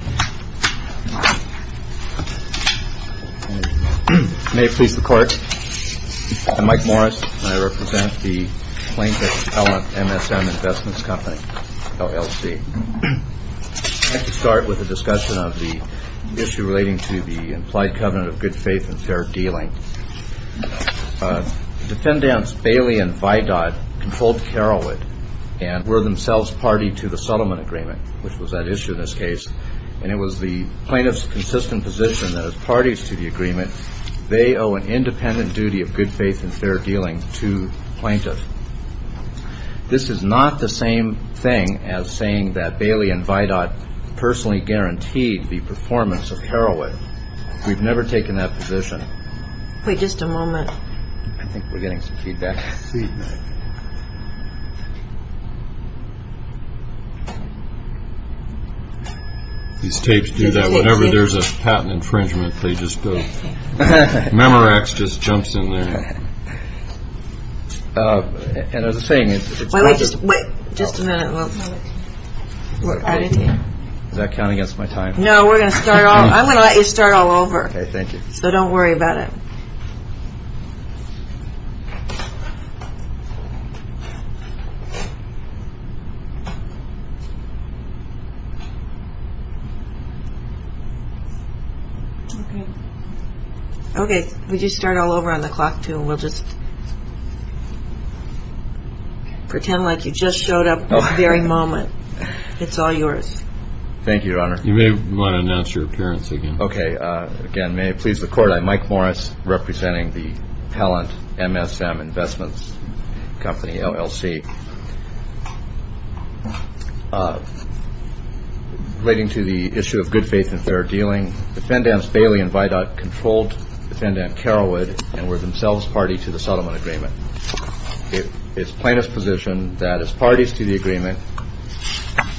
May it please the Court, I'm Mike Morris and I represent the plaintiff's element, MSM Investments Company, LLC. I'd like to start with a discussion of the issue relating to the implied covenant of good faith and fair dealing. Defendants Bailey and Vidod controlled Carolwood and were themselves party to the settlement agreement, which was that issue in this case, and it was the plaintiff's consistent position that as parties to the agreement, they owe an independent duty of good faith and fair dealing to the plaintiff. This is not the same thing as saying that Bailey and Vidod personally guaranteed the performance of Carolwood. We've never taken that position. Wait just a moment. I think we're getting some feedback. These tapes do that whenever there's a patent infringement, they just go. Memorax just jumps in there. Wait just a minute. Is that counting against my time? No, we're going to start all, I'm going to let you start all over. Okay, thank you. So don't worry about it. Okay, we just start all over on the clock too and we'll just pretend like you just showed up this very moment. It's all yours. Thank you, Your Honor. You may want to announce your appearance again. Okay. Again, may it please the court. I'm Mike Morris representing the Pellant MSM Investments Company LLC. Relating to the issue of good faith and fair dealing, defendants Bailey and Vidod controlled defendant Carolwood and were themselves party to the settlement agreement. It is plaintiff's position that as parties to the agreement,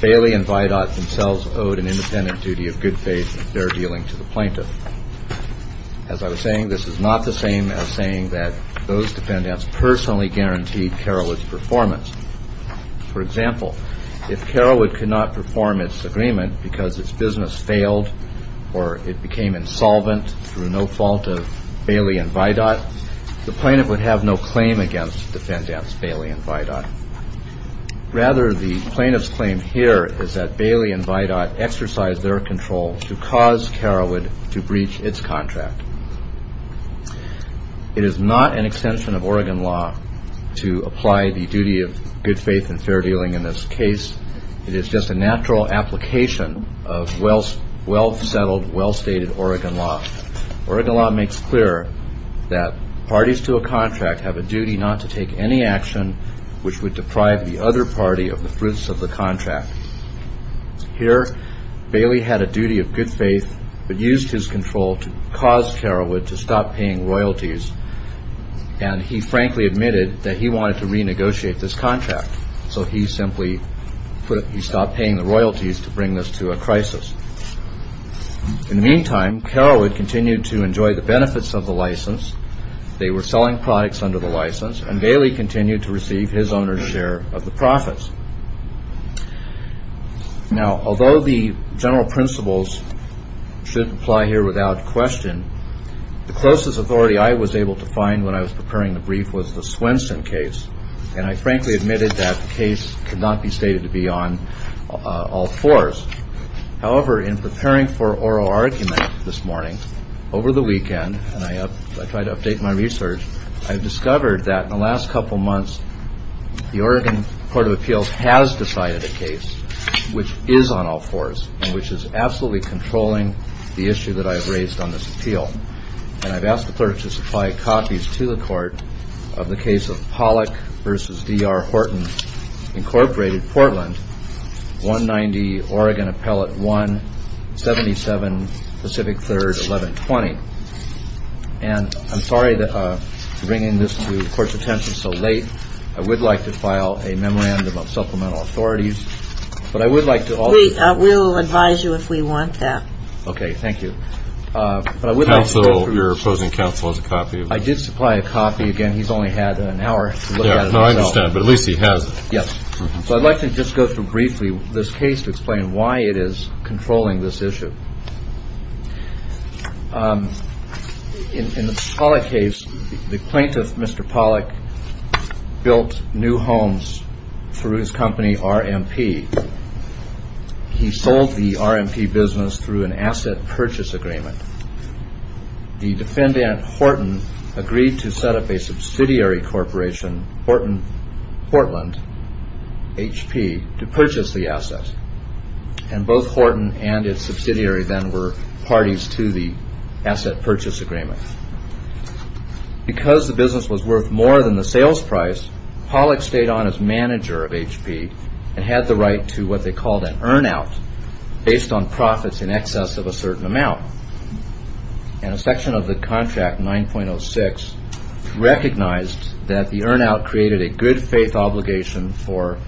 Bailey and Vidod themselves owed an independent duty of good faith and fair dealing to the plaintiff. As I was saying, this is not the same as saying that those defendants personally guaranteed Carolwood's performance. For example, if Carolwood could not perform its agreement because its business failed or it became insolvent through no fault of Bailey and Vidod, the plaintiff would have no claim against defendants Bailey and Vidod. Rather, the plaintiff's claim here is that Bailey and Vidod exercised their control to cause Carolwood to breach its contract. It is not an extension of Oregon law to apply the duty of good faith and fair dealing in this case. It is just a natural application of well settled, well stated Oregon law. Oregon law makes clear that parties to a contract have a duty not to take any action which would deprive the other party of the fruits of the contract. Here, Bailey had a duty of good faith but used his control to cause Carolwood to stop paying royalties. And he frankly admitted that he wanted to renegotiate this contract. So he simply stopped paying the royalties to bring this to a crisis. In the meantime, Carolwood continued to enjoy the benefits of the license. They were selling products under the license and Bailey continued to receive his owner's share of the profits. Now, although the general principles should apply here without question, the closest authority I was able to find when I was preparing the brief was the Swenson case. And I frankly admitted that the case could not be stated to be on all fours. However, in preparing for oral argument this morning, over the weekend, and I tried to update my research, I discovered that in the last couple of months the Oregon Court of Appeals has decided a case which is on all fours and which is absolutely controlling the issue that I've raised on this appeal. And I've asked the clerk to supply copies to the court of the case of Pollack v. D.R. Horton, Incorporated, Portland, 190 Oregon Appellate 177 Pacific 3rd, 1120. And I'm sorry for bringing this to the court's attention so late. I would like to file a memorandum of supplemental authorities. But I would like to also – We will advise you if we want that. Okay. Thank you. Counsel, your opposing counsel, has a copy. I did supply a copy. Again, he's only had an hour to look at it himself. I understand, but at least he has it. Yes. So I'd like to just go through briefly this case to explain why it is controlling this issue. In the Pollack case, the plaintiff, Mr. Pollack, built new homes through his company, RMP. He sold the RMP business through an asset purchase agreement. The defendant, Horton, agreed to set up a subsidiary corporation, Horton, Portland, HP, to purchase the asset. And both Horton and its subsidiary then were parties to the asset purchase agreement. Because the business was worth more than the sales price, Pollack stayed on as manager of HP and had the right to what they called an earn-out based on profits in excess of a certain amount. And a section of the contract, 9.06, recognized that the earn-out created a good-faith obligation for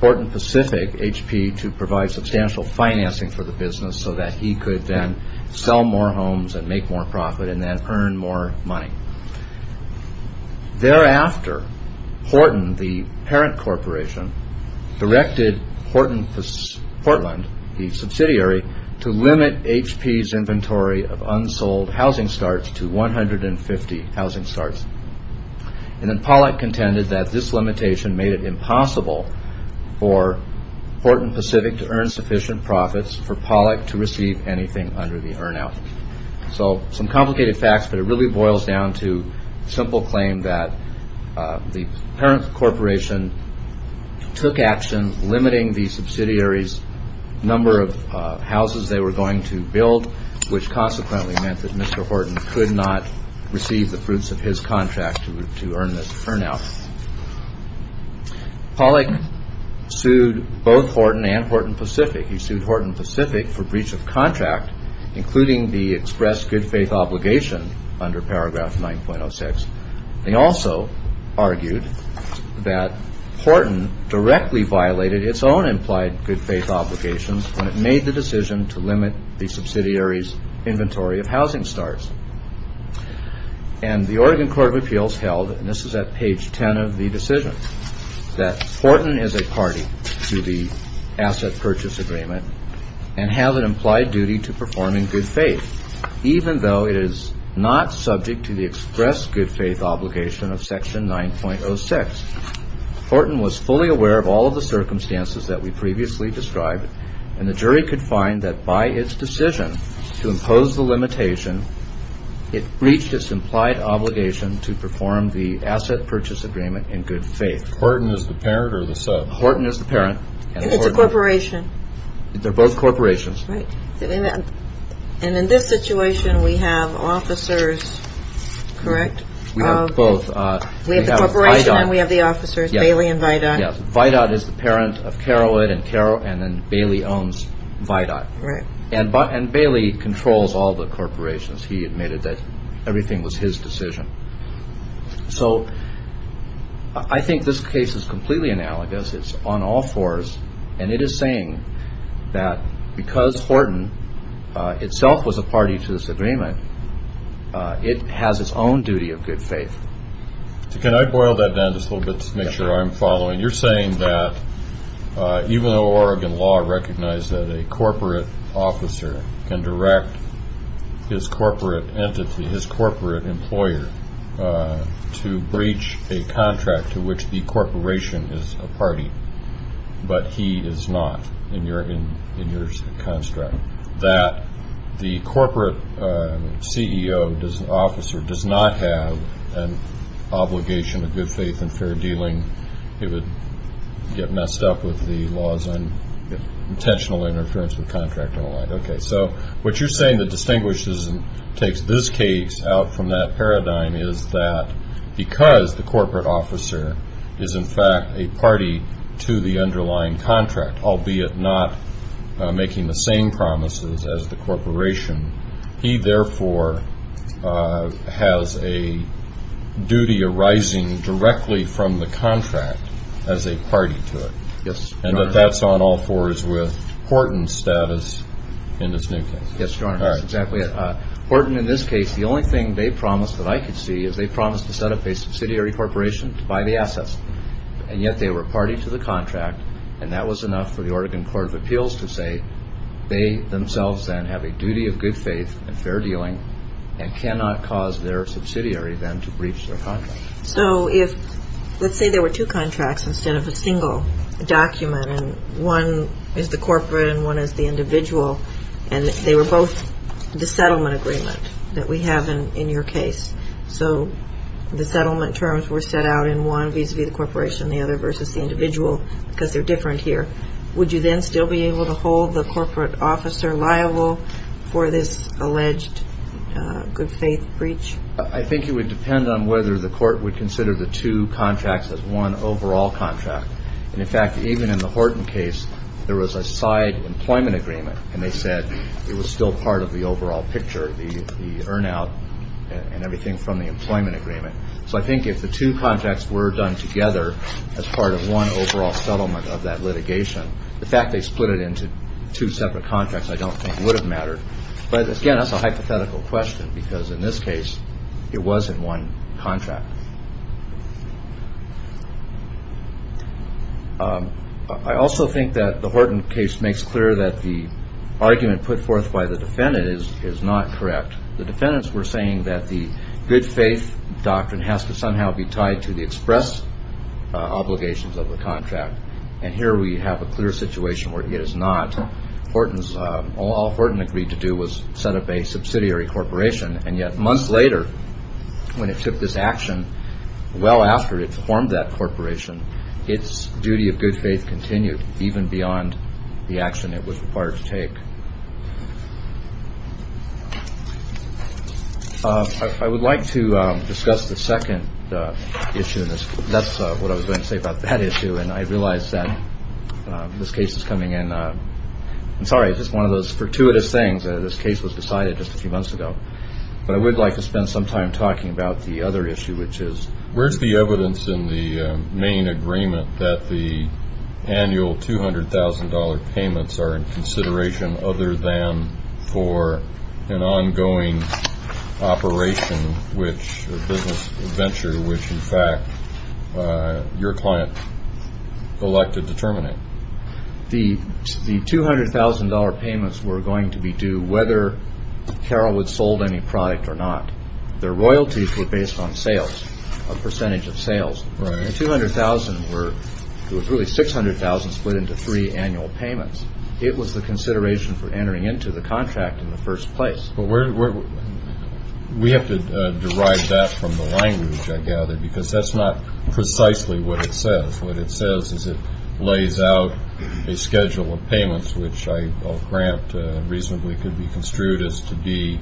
Horton Pacific, HP, to provide substantial financing for the business so that he could then sell more homes and make more profit and then earn more money. Thereafter, Horton, the parent corporation, directed Horton, Portland, the subsidiary, to limit HP's inventory of unsold housing starts to 150 housing starts. And then Pollack contended that this limitation made it impossible for Horton Pacific to earn sufficient profits for Pollack to receive anything under the earn-out. So some complicated facts, but it really boils down to simple claim that the parent corporation took action, limiting the subsidiary's number of houses they were going to build, which consequently meant that Mr. Horton could not receive the fruits of his contract to earn this earn-out. Pollack sued both Horton and Horton Pacific. He sued Horton Pacific for breach of contract, including the expressed good-faith obligation under paragraph 9.06. They also argued that Horton directly violated its own implied good-faith obligation when it made the decision to limit the subsidiary's inventory of housing starts. And the Oregon Court of Appeals held, and this is at page 10 of the decision, that Horton is a party to the asset purchase agreement and have an implied duty to perform in good faith, even though it is not subject to the expressed good-faith obligation of section 9.06. Horton was fully aware of all of the circumstances that we previously described, and the jury could find that by its decision to impose the limitation, it breached its implied obligation to perform the asset purchase agreement in good faith. Horton is the parent or the sub? Horton is the parent. It's a corporation. They're both corporations. And in this situation, we have officers, correct? We have both. We have the corporation and we have the officers, Bailey and Vidot. Vidot is the parent of Carowood, and then Bailey owns Vidot. And Bailey controls all the corporations. He admitted that everything was his decision. So I think this case is completely analogous. It's on all fours, and it is saying that because Horton itself was a party to this agreement, it has its own duty of good faith. Can I boil that down just a little bit to make sure I'm following? You're saying that even though Oregon law recognized that a corporate officer can direct his corporate entity, his corporate employer, to breach a contract to which the corporation is a party, but he is not in your construct, that the corporate CEO, officer, does not have an obligation of good faith and fair dealing, it would get messed up with the laws on intentional interference with contract and the like. Okay. So what you're saying that distinguishes and takes this case out from that paradigm is that because the corporate officer is, in fact, a party to the underlying contract, albeit not making the same promises as the corporation, he, therefore, has a duty arising directly from the contract as a party to it. Yes, Your Honor. And that that's on all fours with Horton's status in this new case. Yes, Your Honor. That's exactly it. Horton, in this case, the only thing they promised that I could see is they promised to set up a subsidiary corporation to buy the assets, and yet they were a party to the contract, and that was enough for the Oregon Court of Appeals to say they themselves then have a duty of good faith and fair dealing and cannot cause their subsidiary then to breach their contract. So if let's say there were two contracts instead of a single document, and one is the corporate and one is the individual, and they were both the settlement agreement that we have in your case, so the settlement terms were set out in one vis-à-vis the corporation, the other versus the individual because they're different here, would you then still be able to hold the corporate officer liable for this alleged good faith breach? I think it would depend on whether the court would consider the two contracts as one overall contract. And, in fact, even in the Horton case, there was a side employment agreement, and they said it was still part of the overall picture, the earn out and everything from the employment agreement. So I think if the two contracts were done together as part of one overall settlement of that litigation, the fact they split it into two separate contracts I don't think would have mattered. But, again, that's a hypothetical question because, in this case, it was in one contract. I also think that the Horton case makes clear that the argument put forth by the defendant is not correct. The defendants were saying that the good faith doctrine has to somehow be tied to the express obligations of the contract, and here we have a clear situation where it is not. All Horton agreed to do was set up a subsidiary corporation, and yet months later, when it took this action, well after it formed that corporation, its duty of good faith continued even beyond the action it was required to take. I would like to discuss the second issue. That's what I was going to say about that issue, and I realize that this case is coming in. I'm sorry, it's just one of those fortuitous things. This case was decided just a few months ago. But I would like to spend some time talking about the other issue, which is, where's the evidence in the main agreement that the annual $200,000 payments are in consideration, other than for an ongoing operation or business venture, which, in fact, your client elected to terminate? The $200,000 payments were going to be due whether Carroll would have sold any product or not. Their royalties were based on sales, a percentage of sales. The $200,000 were really $600,000 split into three annual payments. It was the consideration for entering into the contract in the first place. But we have to derive that from the language, I gather, because that's not precisely what it says. What it says is it lays out a schedule of payments, which I grant reasonably could be construed as to be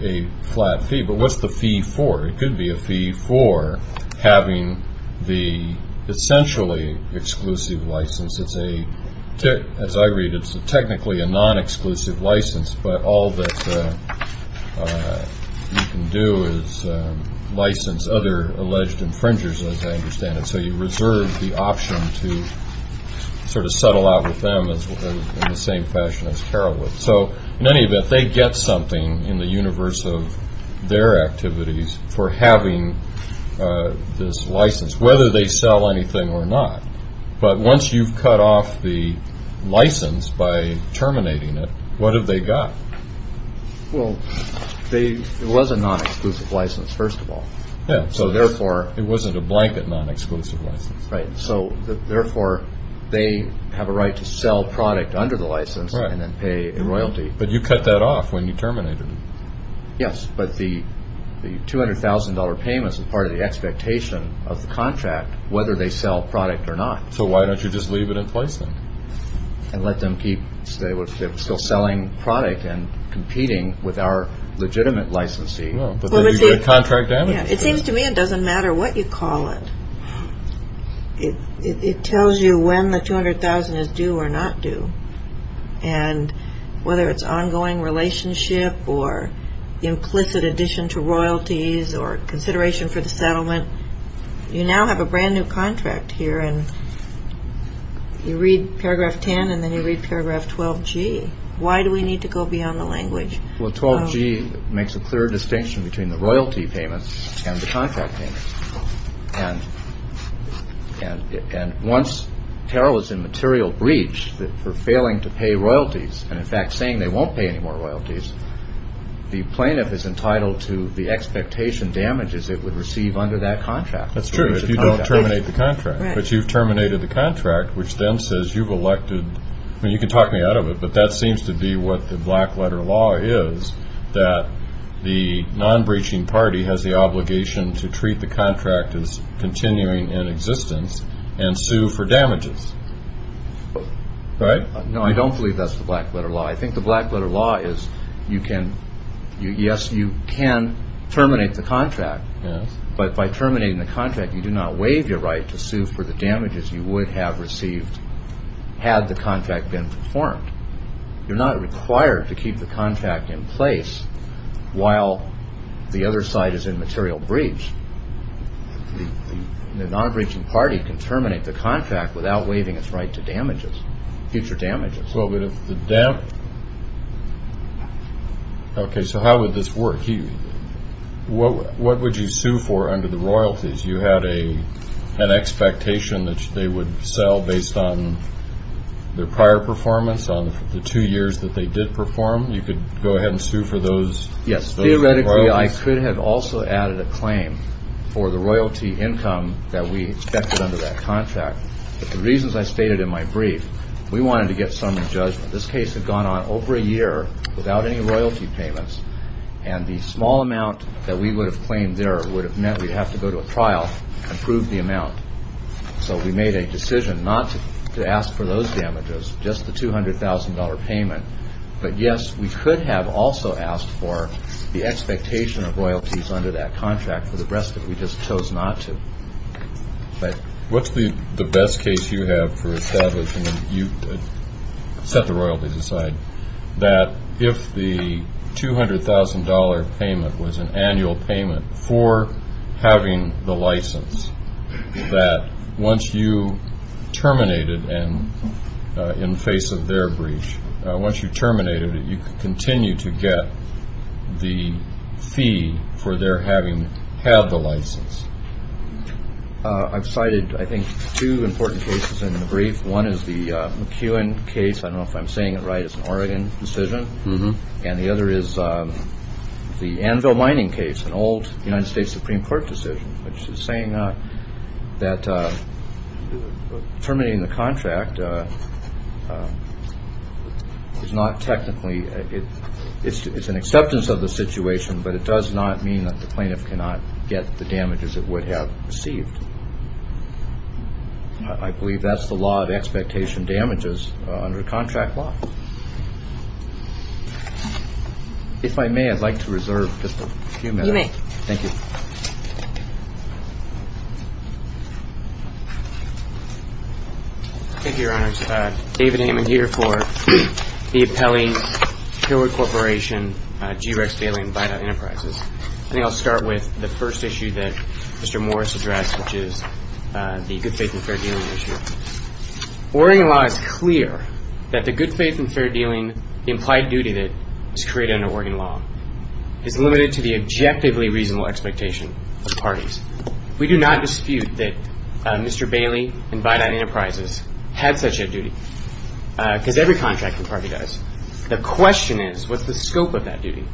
a flat fee. But what's the fee for? It could be a fee for having the essentially exclusive license. As I read it, it's technically a non-exclusive license, but all that you can do is license other alleged infringers, as I understand it. So you reserve the option to sort of settle out with them in the same fashion as Carroll would. So in any event, they get something in the universe of their activities for having this license, whether they sell anything or not. But once you've cut off the license by terminating it, what have they got? Well, it was a non-exclusive license, first of all. So therefore, it wasn't a blanket non-exclusive license. Right. So therefore, they have a right to sell product under the license and then pay a royalty. But you cut that off when you terminated it. Yes, but the $200,000 payment is part of the expectation of the contract, whether they sell product or not. So why don't you just leave it in place then? And let them keep still selling product and competing with our legitimate licensee. It seems to me it doesn't matter what you call it. It tells you when the $200,000 is due or not due. And whether it's ongoing relationship or implicit addition to royalties or consideration for the settlement, you now have a brand new contract here and you read paragraph 10 and then you read paragraph 12G. Well, 12G makes a clear distinction between the royalty payments and the contract payments. And once Terrell is in material breach for failing to pay royalties and, in fact, saying they won't pay any more royalties, the plaintiff is entitled to the expectation damages it would receive under that contract. That's true if you don't terminate the contract. But you've terminated the contract, which then says you've elected. I mean, you can talk me out of it, but that seems to be what the black letter law is, that the non-breaching party has the obligation to treat the contract as continuing in existence and sue for damages. Right? No, I don't believe that's the black letter law. I think the black letter law is you can, yes, you can terminate the contract. But by terminating the contract, you do not waive your right to sue for the damages you would have received had the contract been performed. You're not required to keep the contract in place while the other side is in material breach. The non-breaching party can terminate the contract without waiving its right to damages, future damages. Okay, so how would this work? What would you sue for under the royalties? You had an expectation that they would sell based on their prior performance on the two years that they did perform. You could go ahead and sue for those royalties? Yes, theoretically, I could have also added a claim for the royalty income that we expected under that contract. But the reasons I stated in my brief, we wanted to get someone judged. This case had gone on over a year without any royalty payments. And the small amount that we would have claimed there would have meant we'd have to go to a trial and prove the amount. So we made a decision not to ask for those damages, just the $200,000 payment. But, yes, we could have also asked for the expectation of royalties under that contract for the rest of it. We just chose not to. What's the best case you have for establishing, you set the royalties aside, that if the $200,000 payment was an annual payment for having the license, that once you terminated and in face of their breach, once you terminated it, you could continue to get the fee for their having had the license? I've cited, I think, two important cases in the brief. One is the McEwen case. I don't know if I'm saying it right. It's an Oregon decision. And the other is the Anvil Mining case, an old United States Supreme Court decision, which is saying that terminating the contract is not technically, it's an acceptance of the situation, but it does not mean that the plaintiff cannot get the damages it would have received. I believe that's the law of expectation damages under contract law. If I may, I'd like to reserve just a few minutes. You may. Thank you. Thank you, Your Honors. David Hammond here for the appellee, Hillwood Corporation, G. Rex Bailey, and Vita Enterprises. I think I'll start with the first issue that Mr. Morris addressed, which is the good faith and fair dealing issue. Oregon law is clear that the good faith and fair dealing implied duty that is created under Oregon law is limited to the objectively reasonable expectation of parties. We do not dispute that Mr. Bailey and Vita Enterprises had such a duty, because every contracting party does. The question is, what's the scope of that duty?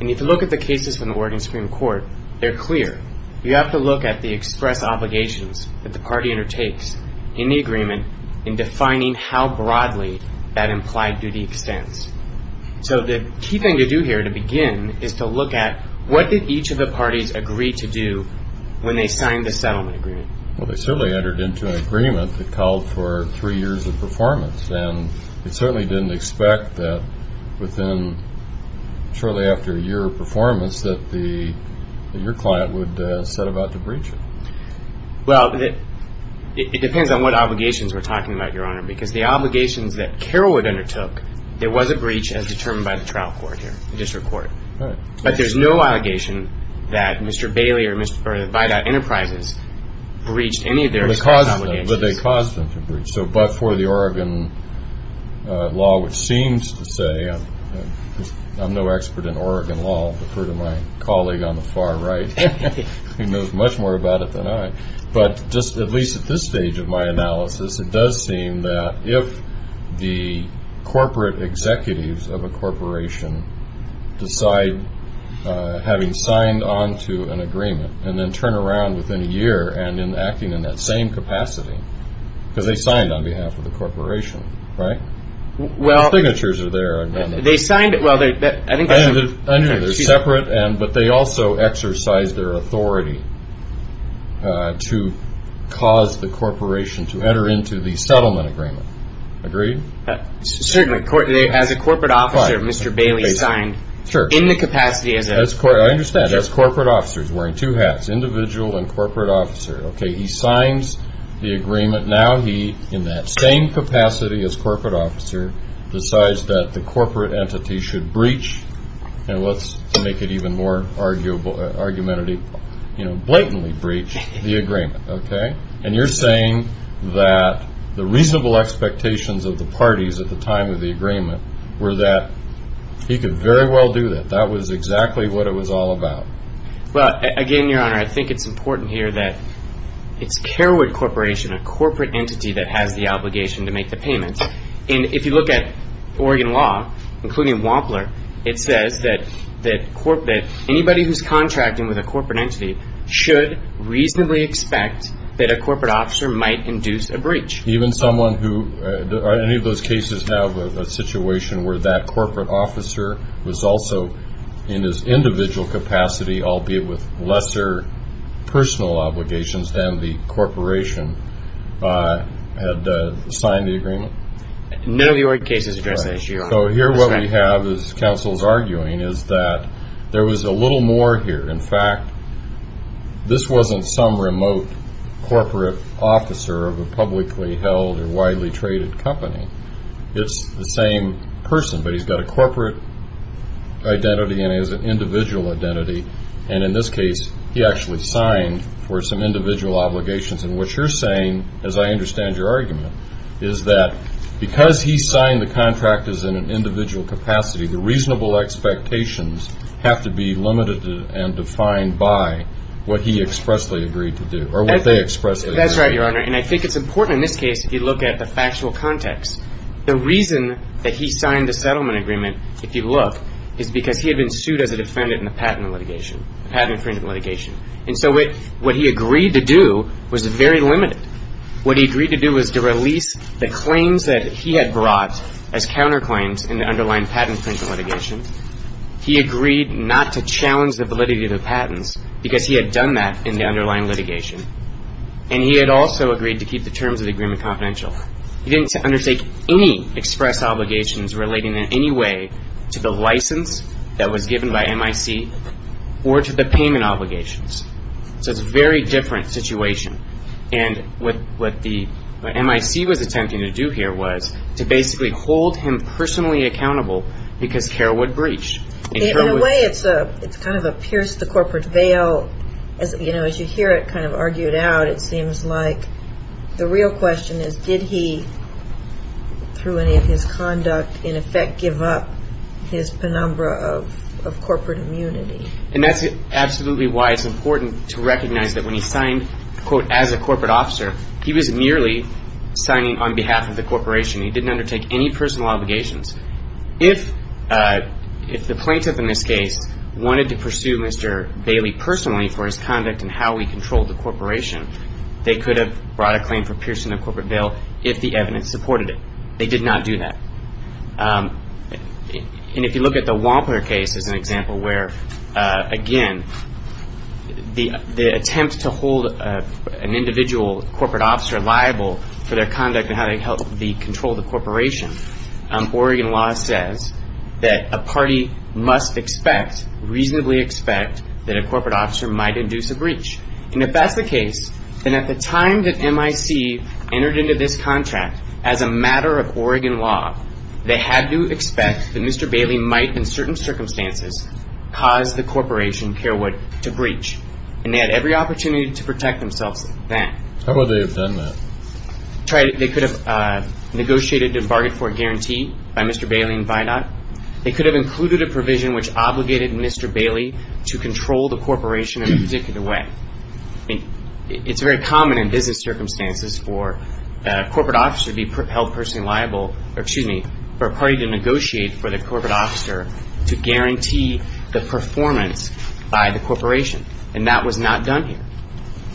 And if you look at the cases from the Oregon Supreme Court, they're clear. You have to look at the express obligations that the party undertakes in the agreement in defining how broadly that implied duty extends. So the key thing to do here to begin is to look at, what did each of the parties agree to do when they signed the settlement agreement? Well, they certainly entered into an agreement that called for three years of performance, and they certainly didn't expect that within shortly after a year of performance that your client would set about to breach it. Well, it depends on what obligations we're talking about, Your Honor, because the obligations that Carolwood undertook, there was a breach as determined by the trial court here, the district court. But there's no allegation that Mr. Bailey or Vita Enterprises breached any of their express obligations. But they caused them to breach. So but for the Oregon law, which seems to say, I'm no expert in Oregon law, but for my colleague on the far right who knows much more about it than I, but just at least at this stage of my analysis, it does seem that if the corporate executives of a corporation decide having signed on to an agreement and then turn around within a year and in acting in that same capacity, because they signed on behalf of the corporation, right? Well, The signatures are there. They signed it. I understand. They're separate, but they also exercised their authority to cause the corporation to enter into the settlement agreement. Agreed? Certainly. As a corporate officer, Mr. Bailey signed in the capacity as a corporate officer. I understand. As corporate officers, wearing two hats, individual and corporate officer. Okay. He signs the agreement. But now he, in that same capacity as corporate officer, decides that the corporate entity should breach, and let's make it even more argumentative, blatantly breach the agreement. Okay? And you're saying that the reasonable expectations of the parties at the time of the agreement were that he could very well do that. That was exactly what it was all about. Well, again, Your Honor, I think it's important here that it's Kerwood Corporation, a corporate entity that has the obligation to make the payments. And if you look at Oregon law, including Wampler, it says that anybody who's contracting with a corporate entity should reasonably expect that a corporate officer might induce a breach. Do any of those cases have a situation where that corporate officer was also, in his individual capacity, albeit with lesser personal obligations than the corporation, had signed the agreement? None of the Oregon cases address that issue. So here what we have, as counsel is arguing, is that there was a little more here. In fact, this wasn't some remote corporate officer of a publicly held or widely traded company. It's the same person, but he's got a corporate identity and he has an individual identity. And in this case, he actually signed for some individual obligations. And what you're saying, as I understand your argument, is that because he signed the contract as in an individual capacity, the reasonable expectations have to be limited and defined by what he expressly agreed to do or what they expressly agreed to do. That's right, Your Honor. And I think it's important in this case, if you look at the factual context, the reason that he signed the settlement agreement, if you look, is because he had been sued as a defendant in the patent infringement litigation. And so what he agreed to do was very limited. What he agreed to do was to release the claims that he had brought as counterclaims in the underlying patent infringement litigation. He agreed not to challenge the validity of the patents because he had done that in the underlying litigation. And he had also agreed to keep the terms of the agreement confidential. He didn't undertake any express obligations relating in any way to the license that was given by MIC or to the payment obligations. So it's a very different situation. And what the MIC was attempting to do here was to basically hold him personally accountable because care would breach. In a way, it's kind of a pierce the corporate veil. As you hear it kind of argued out, it seems like the real question is, did he, through any of his conduct, in effect give up his penumbra of corporate immunity? And that's absolutely why it's important to recognize that when he signed, quote, as a corporate officer, he was merely signing on behalf of the corporation. He didn't undertake any personal obligations. If the plaintiff in this case wanted to pursue Mr. Bailey personally for his conduct and how he controlled the corporation, they could have brought a claim for piercing the corporate veil if the evidence supported it. They did not do that. And if you look at the Wampler case as an example where, again, the attempt to hold an individual corporate officer liable for their conduct and how they controlled the corporation, Oregon law says that a party must expect, reasonably expect, that a corporate officer might induce a breach. And if that's the case, then at the time that MIC entered into this contract, as a matter of Oregon law, they had to expect that Mr. Bailey might, in certain circumstances, cause the corporation, Carewood, to breach. And they had every opportunity to protect themselves then. How would they have done that? They could have negotiated and bargained for a guarantee by Mr. Bailey and Vinod. They could have included a provision which obligated Mr. Bailey to control the corporation in a particular way. I mean, it's very common in business circumstances for a corporate officer to be held personally liable, or excuse me, for a party to negotiate for the corporate officer to guarantee the performance by the corporation. And that was not done here.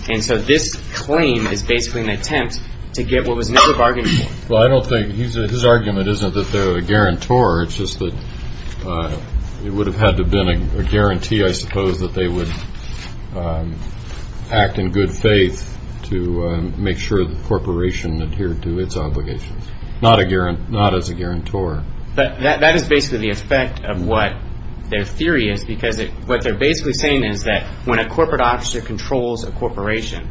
And so this claim is basically an attempt to get what was never bargained for. Well, I don't think his argument isn't that they're a guarantor. It's just that it would have had to have been a guarantee, I suppose, that they would act in good faith to make sure the corporation adhered to its obligations, not as a guarantor. But that is basically the effect of what their theory is, because what they're basically saying is that when a corporate officer controls a corporation,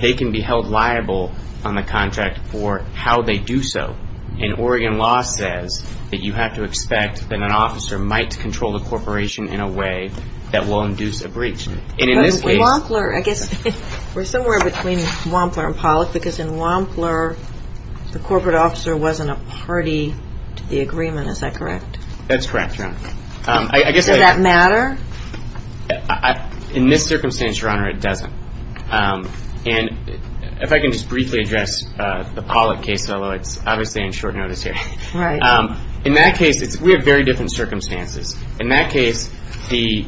they can be held liable on the contract for how they do so. And Oregon law says that you have to expect that an officer might control the corporation in a way that will induce a breach. And in this case- But with Wampler, I guess we're somewhere between Wampler and Pollack, because in Wampler, the corporate officer wasn't a party to the agreement. Is that correct? That's correct, Your Honor. Does that matter? In this circumstance, Your Honor, it doesn't. And if I can just briefly address the Pollack case, although it's obviously on short notice here. Right. In that case, we have very different circumstances. In that case, the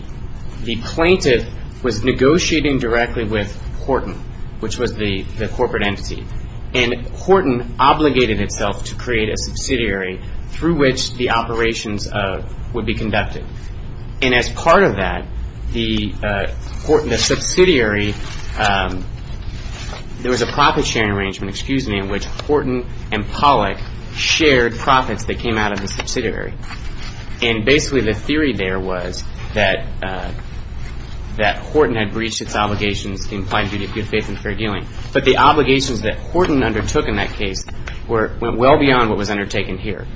plaintiff was negotiating directly with Horton, which was the corporate entity. And Horton obligated itself to create a subsidiary through which the operations would be conducted. And as part of that, the subsidiary, there was a profit-sharing arrangement, excuse me, in which Horton and Pollack shared profits that came out of the subsidiary. And basically, the theory there was that Horton had breached its obligations in plain view of good faith and fair dealing. But the obligations that Horton undertook in that case went well beyond what was undertaken here.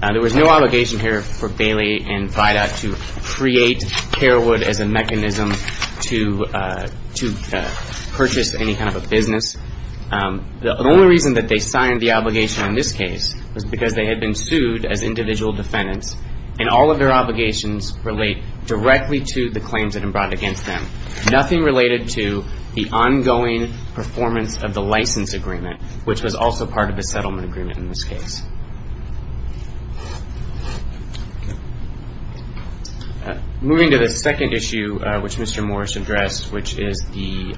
There was no obligation here for Bailey and Vidot to create Carewood as a mechanism to purchase any kind of a business. The only reason that they signed the obligation in this case was because they had been sued as individual defendants, and all of their obligations relate directly to the claims that had been brought against them. Nothing related to the ongoing performance of the license agreement, which was also part of the settlement agreement in this case. Moving to the second issue, which Mr. Morris addressed, which is the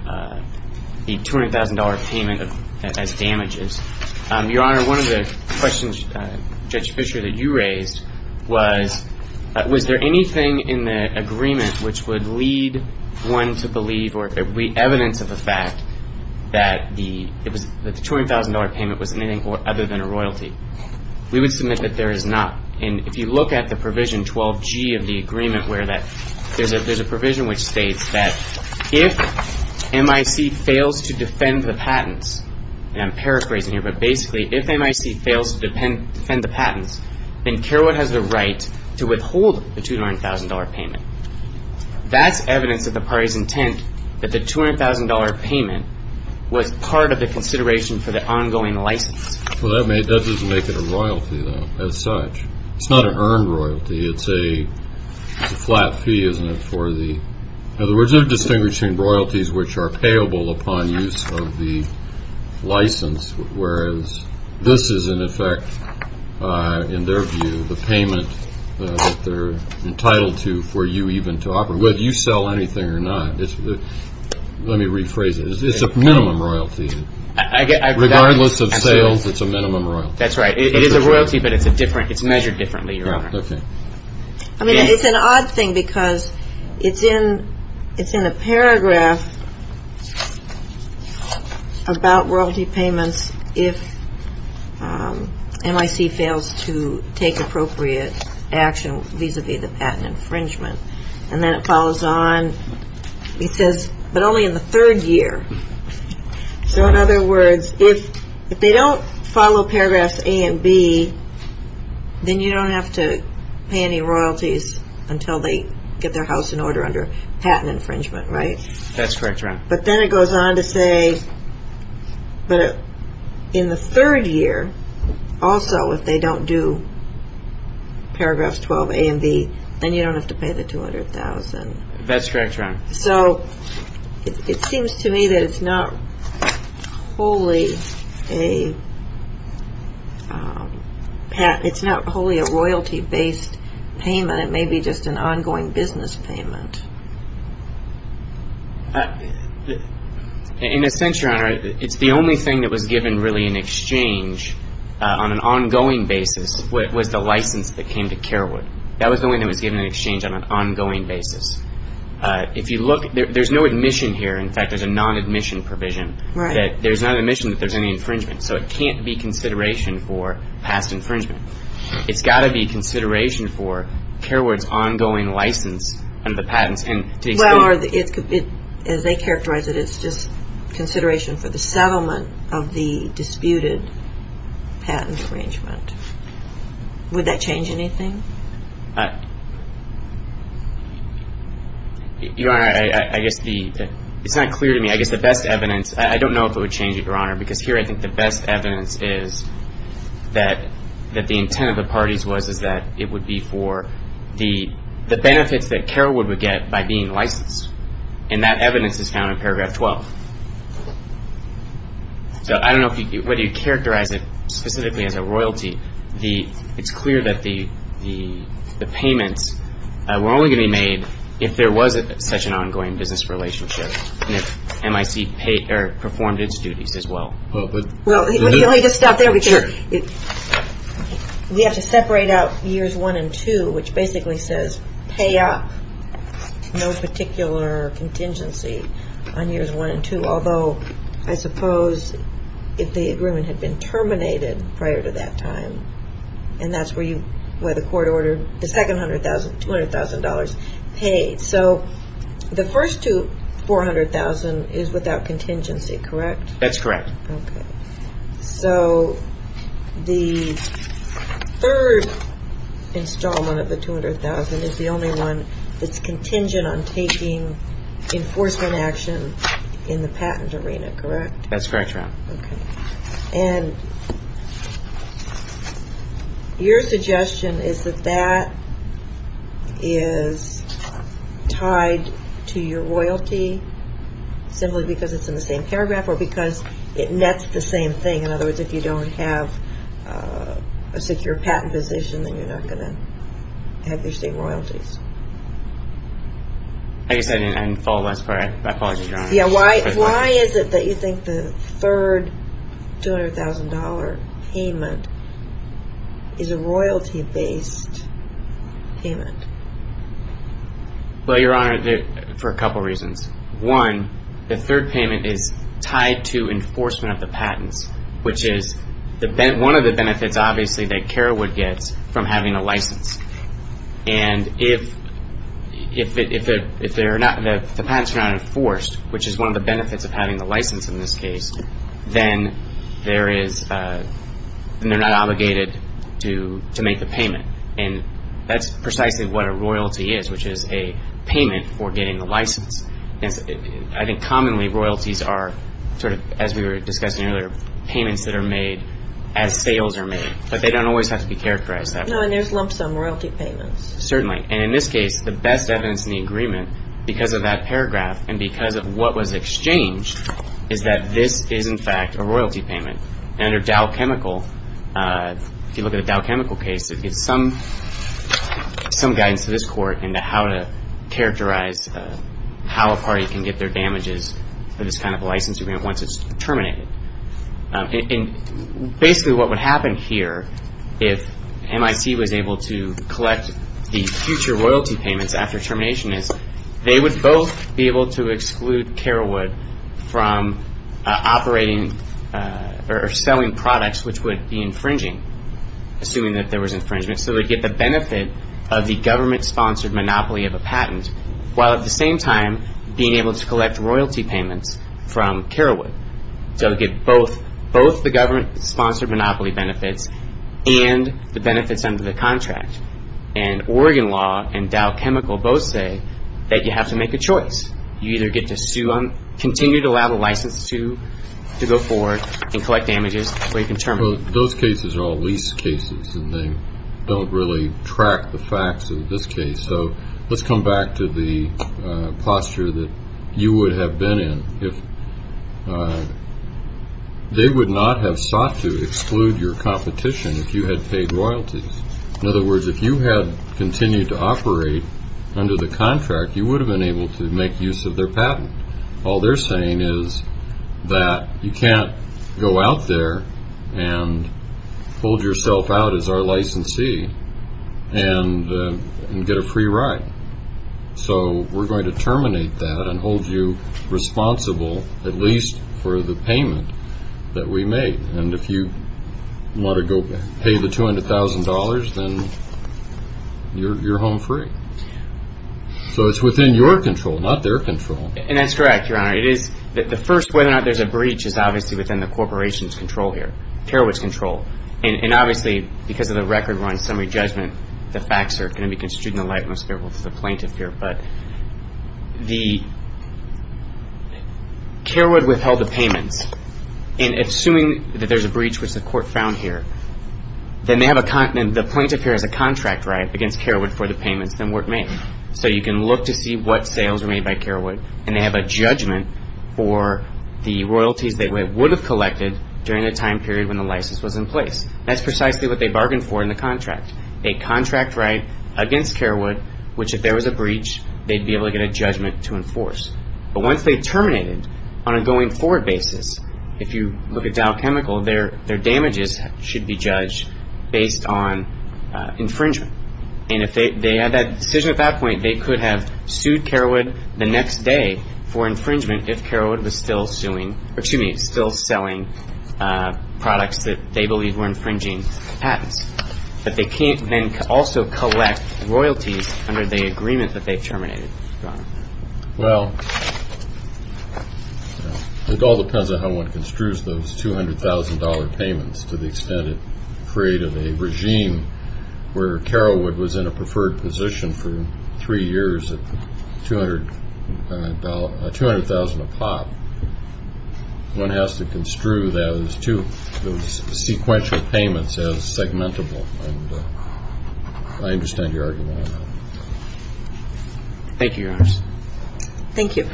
$200,000 payment as damages. Your Honor, one of the questions, Judge Fischer, that you raised was, was there anything in the agreement which would lead one to believe or be evidence of the fact that the $200,000 payment was anything other than a royalty? We would submit that there is not. And if you look at the provision 12G of the agreement where there's a provision which states that if MIC fails to defend the patents, and I'm paraphrasing here, but basically, if MIC fails to defend the patents, then Carewood has the right to withhold the $200,000 payment. That's evidence of the party's intent that the $200,000 payment was part of the consideration for the ongoing license. Well, that doesn't make it a royalty, though, as such. It's not an earned royalty. It's a flat fee, isn't it, for the, in other words, which are payable upon use of the license, whereas this is, in effect, in their view, the payment that they're entitled to for you even to operate, whether you sell anything or not. Let me rephrase it. It's a minimum royalty. Regardless of sales, it's a minimum royalty. That's right. It is a royalty, but it's measured differently, Your Honor. Okay. I mean, it's an odd thing because it's in a paragraph about royalty payments if MIC fails to take appropriate action vis-a-vis the patent infringement, and then it follows on. It says, but only in the third year. So, in other words, if they don't follow paragraphs A and B, then you don't have to pay any royalties until they get their house in order under patent infringement, right? That's correct, Your Honor. But then it goes on to say, but in the third year, also, if they don't do paragraphs 12A and B, then you don't have to pay the $200,000. That's correct, Your Honor. So, it seems to me that it's not wholly a royalty-based payment. It may be just an ongoing business payment. In a sense, Your Honor, it's the only thing that was given really in exchange on an ongoing basis was the license that came to Kerwood. That was the only thing that was given in exchange on an ongoing basis. If you look, there's no admission here. In fact, there's a non-admission provision. There's no admission that there's any infringement. So, it can't be consideration for past infringement. It's got to be consideration for Kerwood's ongoing license and the patents. Well, as they characterize it, it's just consideration for the settlement of the disputed patent infringement. Would that change anything? Your Honor, I guess it's not clear to me. I guess the best evidence, I don't know if it would change it, Your Honor, because here I think the best evidence is that the intent of the parties was that it would be for the benefits that Kerwood would get by being licensed. And that evidence is found in paragraph 12. So, I don't know whether you characterize it specifically as a royalty. It's clear that the payments were only going to be made if there was such an ongoing business relationship and if MIC performed its duties as well. Well, let me just stop there. Sure. We have to separate out years one and two, which basically says pay up no particular contingency on years one and two. Although, I suppose if the agreement had been terminated prior to that time, and that's where the court ordered the second $200,000 paid. So, the first $400,000 is without contingency, correct? That's correct. Okay. So, the third installment of the $200,000 is the only one that's contingent on taking enforcement action in the patent arena, correct? That's correct, Your Honor. Okay. And your suggestion is that that is tied to your royalty simply because it's in the same paragraph or because it nets the same thing. In other words, if you don't have a secure patent position, then you're not going to have your same royalties. I guess I didn't follow the last part. My apologies, Your Honor. Yeah, why is it that you think the third $200,000 payment is a royalty-based payment? Well, Your Honor, for a couple reasons. One, the third payment is tied to enforcement of the patents, which is one of the benefits, obviously, that Kara would get from having a license. And if the patents are not enforced, which is one of the benefits of having the license in this case, then they're not obligated to make the payment. And that's precisely what a royalty is, which is a payment for getting the license. I think commonly royalties are sort of, as we were discussing earlier, payments that are made as sales are made. But they don't always have to be characterized that way. No, and there's lump sum royalty payments. Certainly. And in this case, the best evidence in the agreement, because of that paragraph and because of what was exchanged, is that this is, in fact, a royalty payment. And under Dow Chemical, if you look at the Dow Chemical case, it gives some guidance to this Court into how to characterize how a party can get their damages for this kind of a license agreement once it's terminated. And basically what would happen here if MIT was able to collect the future royalty payments after termination is they would both be able to exclude Kara Wood from operating or selling products which would be infringing, assuming that there was infringement. So they'd get the benefit of the government-sponsored monopoly of a patent, while at the same time being able to collect royalty payments from Kara Wood. So they'd get both the government-sponsored monopoly benefits and the benefits under the contract. And Oregon law and Dow Chemical both say that you have to make a choice. You either get to continue to allow the license to go forward and collect damages or you can terminate. Well, those cases are all lease cases, and they don't really track the facts in this case. So let's come back to the posture that you would have been in if they would not have sought to exclude your competition if you had paid royalties. In other words, if you had continued to operate under the contract, you would have been able to make use of their patent. All they're saying is that you can't go out there and hold yourself out as our licensee and get a free ride. So we're going to terminate that and hold you responsible at least for the payment that we made. And if you want to go pay the $200,000, then you're home free. So it's within your control, not their control. And that's correct, Your Honor. The first whether or not there's a breach is obviously within the corporation's control here, Kara Wood's control. And obviously, because of the record run summary judgment, the facts are going to be construed in the light most favorable to the plaintiff here. But Kara Wood withheld the payments. And assuming that there's a breach, which the court found here, then the plaintiff here has a contract right against Kara Wood for the payments that weren't made. So you can look to see what sales were made by Kara Wood, and they have a judgment for the royalties they would have collected during the time period when the license was in place. That's precisely what they bargained for in the contract, a contract right against Kara Wood, which if there was a breach, they'd be able to get a judgment to enforce. But once they terminated, on a going forward basis, if you look at Dow Chemical, their damages should be judged based on infringement. And if they had that decision at that point, they could have sued Kara Wood the next day for infringement if Kara Wood was still selling products that they believed were infringing patents. But they can't then also collect royalties under the agreement that they terminated. Well, it all depends on how one construes those $200,000 payments to the extent it created a regime where Kara Wood was in a preferred position for three years at $200,000 a pot. One has to construe those two sequential payments as segmentable. And I understand your argument on that. Thank you, Your Honors. Thank you.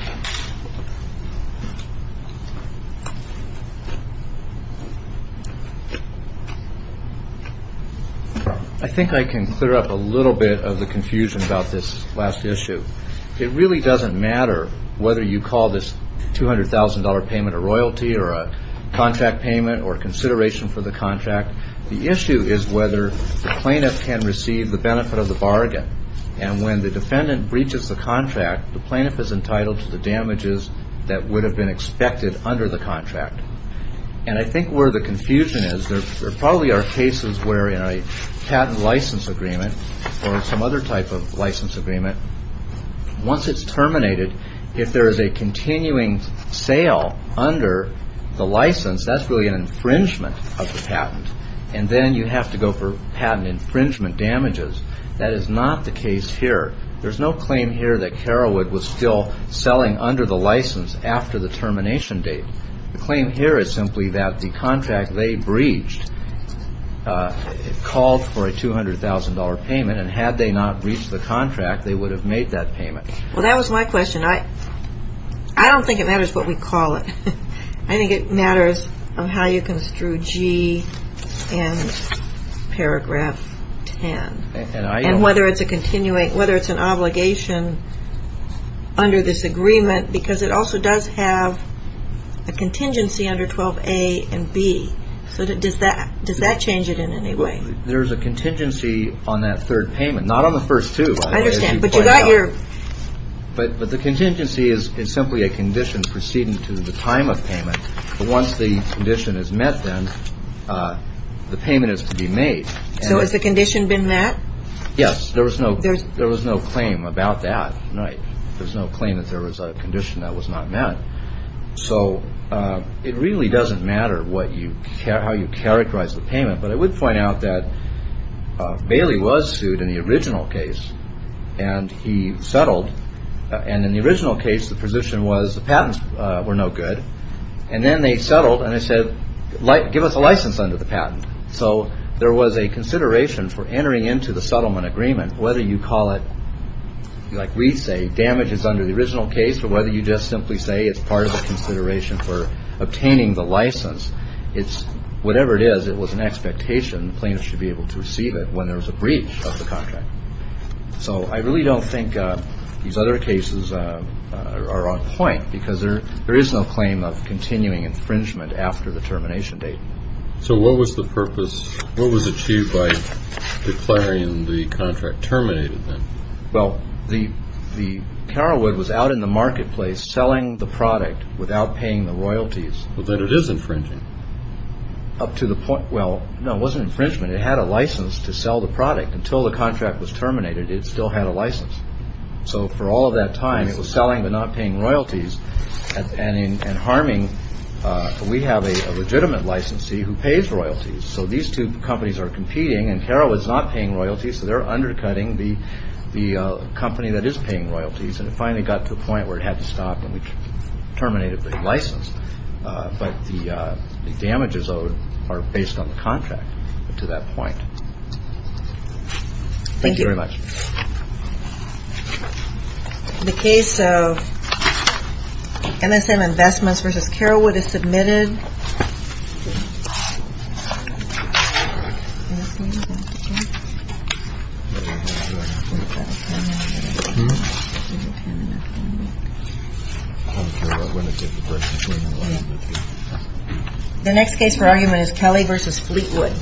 I think I can clear up a little bit of the confusion about this last issue. It really doesn't matter whether you call this $200,000 payment a royalty or a contract payment or consideration for the contract. The issue is whether the plaintiff can receive the benefit of the bargain. And when the defendant breaches the contract, the plaintiff is entitled to the damages that would have been expected under the contract. And I think where the confusion is, there probably are cases where in a patent license agreement or some other type of license agreement, once it's terminated, if there is a continuing sale under the license, that's really an infringement of the patent. And then you have to go for patent infringement damages. That is not the case here. There's no claim here that Kara Wood was still selling under the license after the termination date. The claim here is simply that the contract they breached called for a $200,000 payment, and had they not breached the contract, they would have made that payment. Well, that was my question. I don't think it matters what we call it. I think it matters how you construe G in paragraph 10. And whether it's a continuing, whether it's an obligation under this agreement, because it also does have a contingency under 12A and B. So does that change it in any way? There's a contingency on that third payment. Not on the first two, by the way, as you point out. I understand. But the contingency is simply a condition proceeding to the time of payment. But once the condition is met then, the payment is to be made. So has the condition been met? Yes. There was no claim about that. There was no claim that there was a condition that was not met. So it really doesn't matter how you characterize the payment. But I would point out that Bailey was sued in the original case, and he settled. And in the original case, the position was the patents were no good. And then they settled, and they said, give us a license under the patent. So there was a consideration for entering into the settlement agreement, whether you call it, like we say, damage is under the original case, or whether you just simply say it's part of the consideration for obtaining the license. Whatever it is, it was an expectation. The plaintiff should be able to receive it when there was a breach of the contract. So I really don't think these other cases are on point, because there is no claim of continuing infringement after the termination date. So what was the purpose? What was achieved by declaring the contract terminated then? Well, the Carolwood was out in the marketplace selling the product without paying the royalties. But then it is infringing. Up to the point, well, no, it wasn't infringement. It had a license to sell the product. Until the contract was terminated, it still had a license. So for all of that time, it was selling but not paying royalties and harming. We have a legitimate licensee who pays royalties. So these two companies are competing, and Carolwood's not paying royalties, so they're undercutting the company that is paying royalties. And it finally got to a point where it had to stop, and we terminated the license. But the damages owed are based on the contract up to that point. Thank you very much. The case of MSM Investments v. Carolwood is submitted. The next case for argument is Kelly v. Fleetwood. Thank you for watching.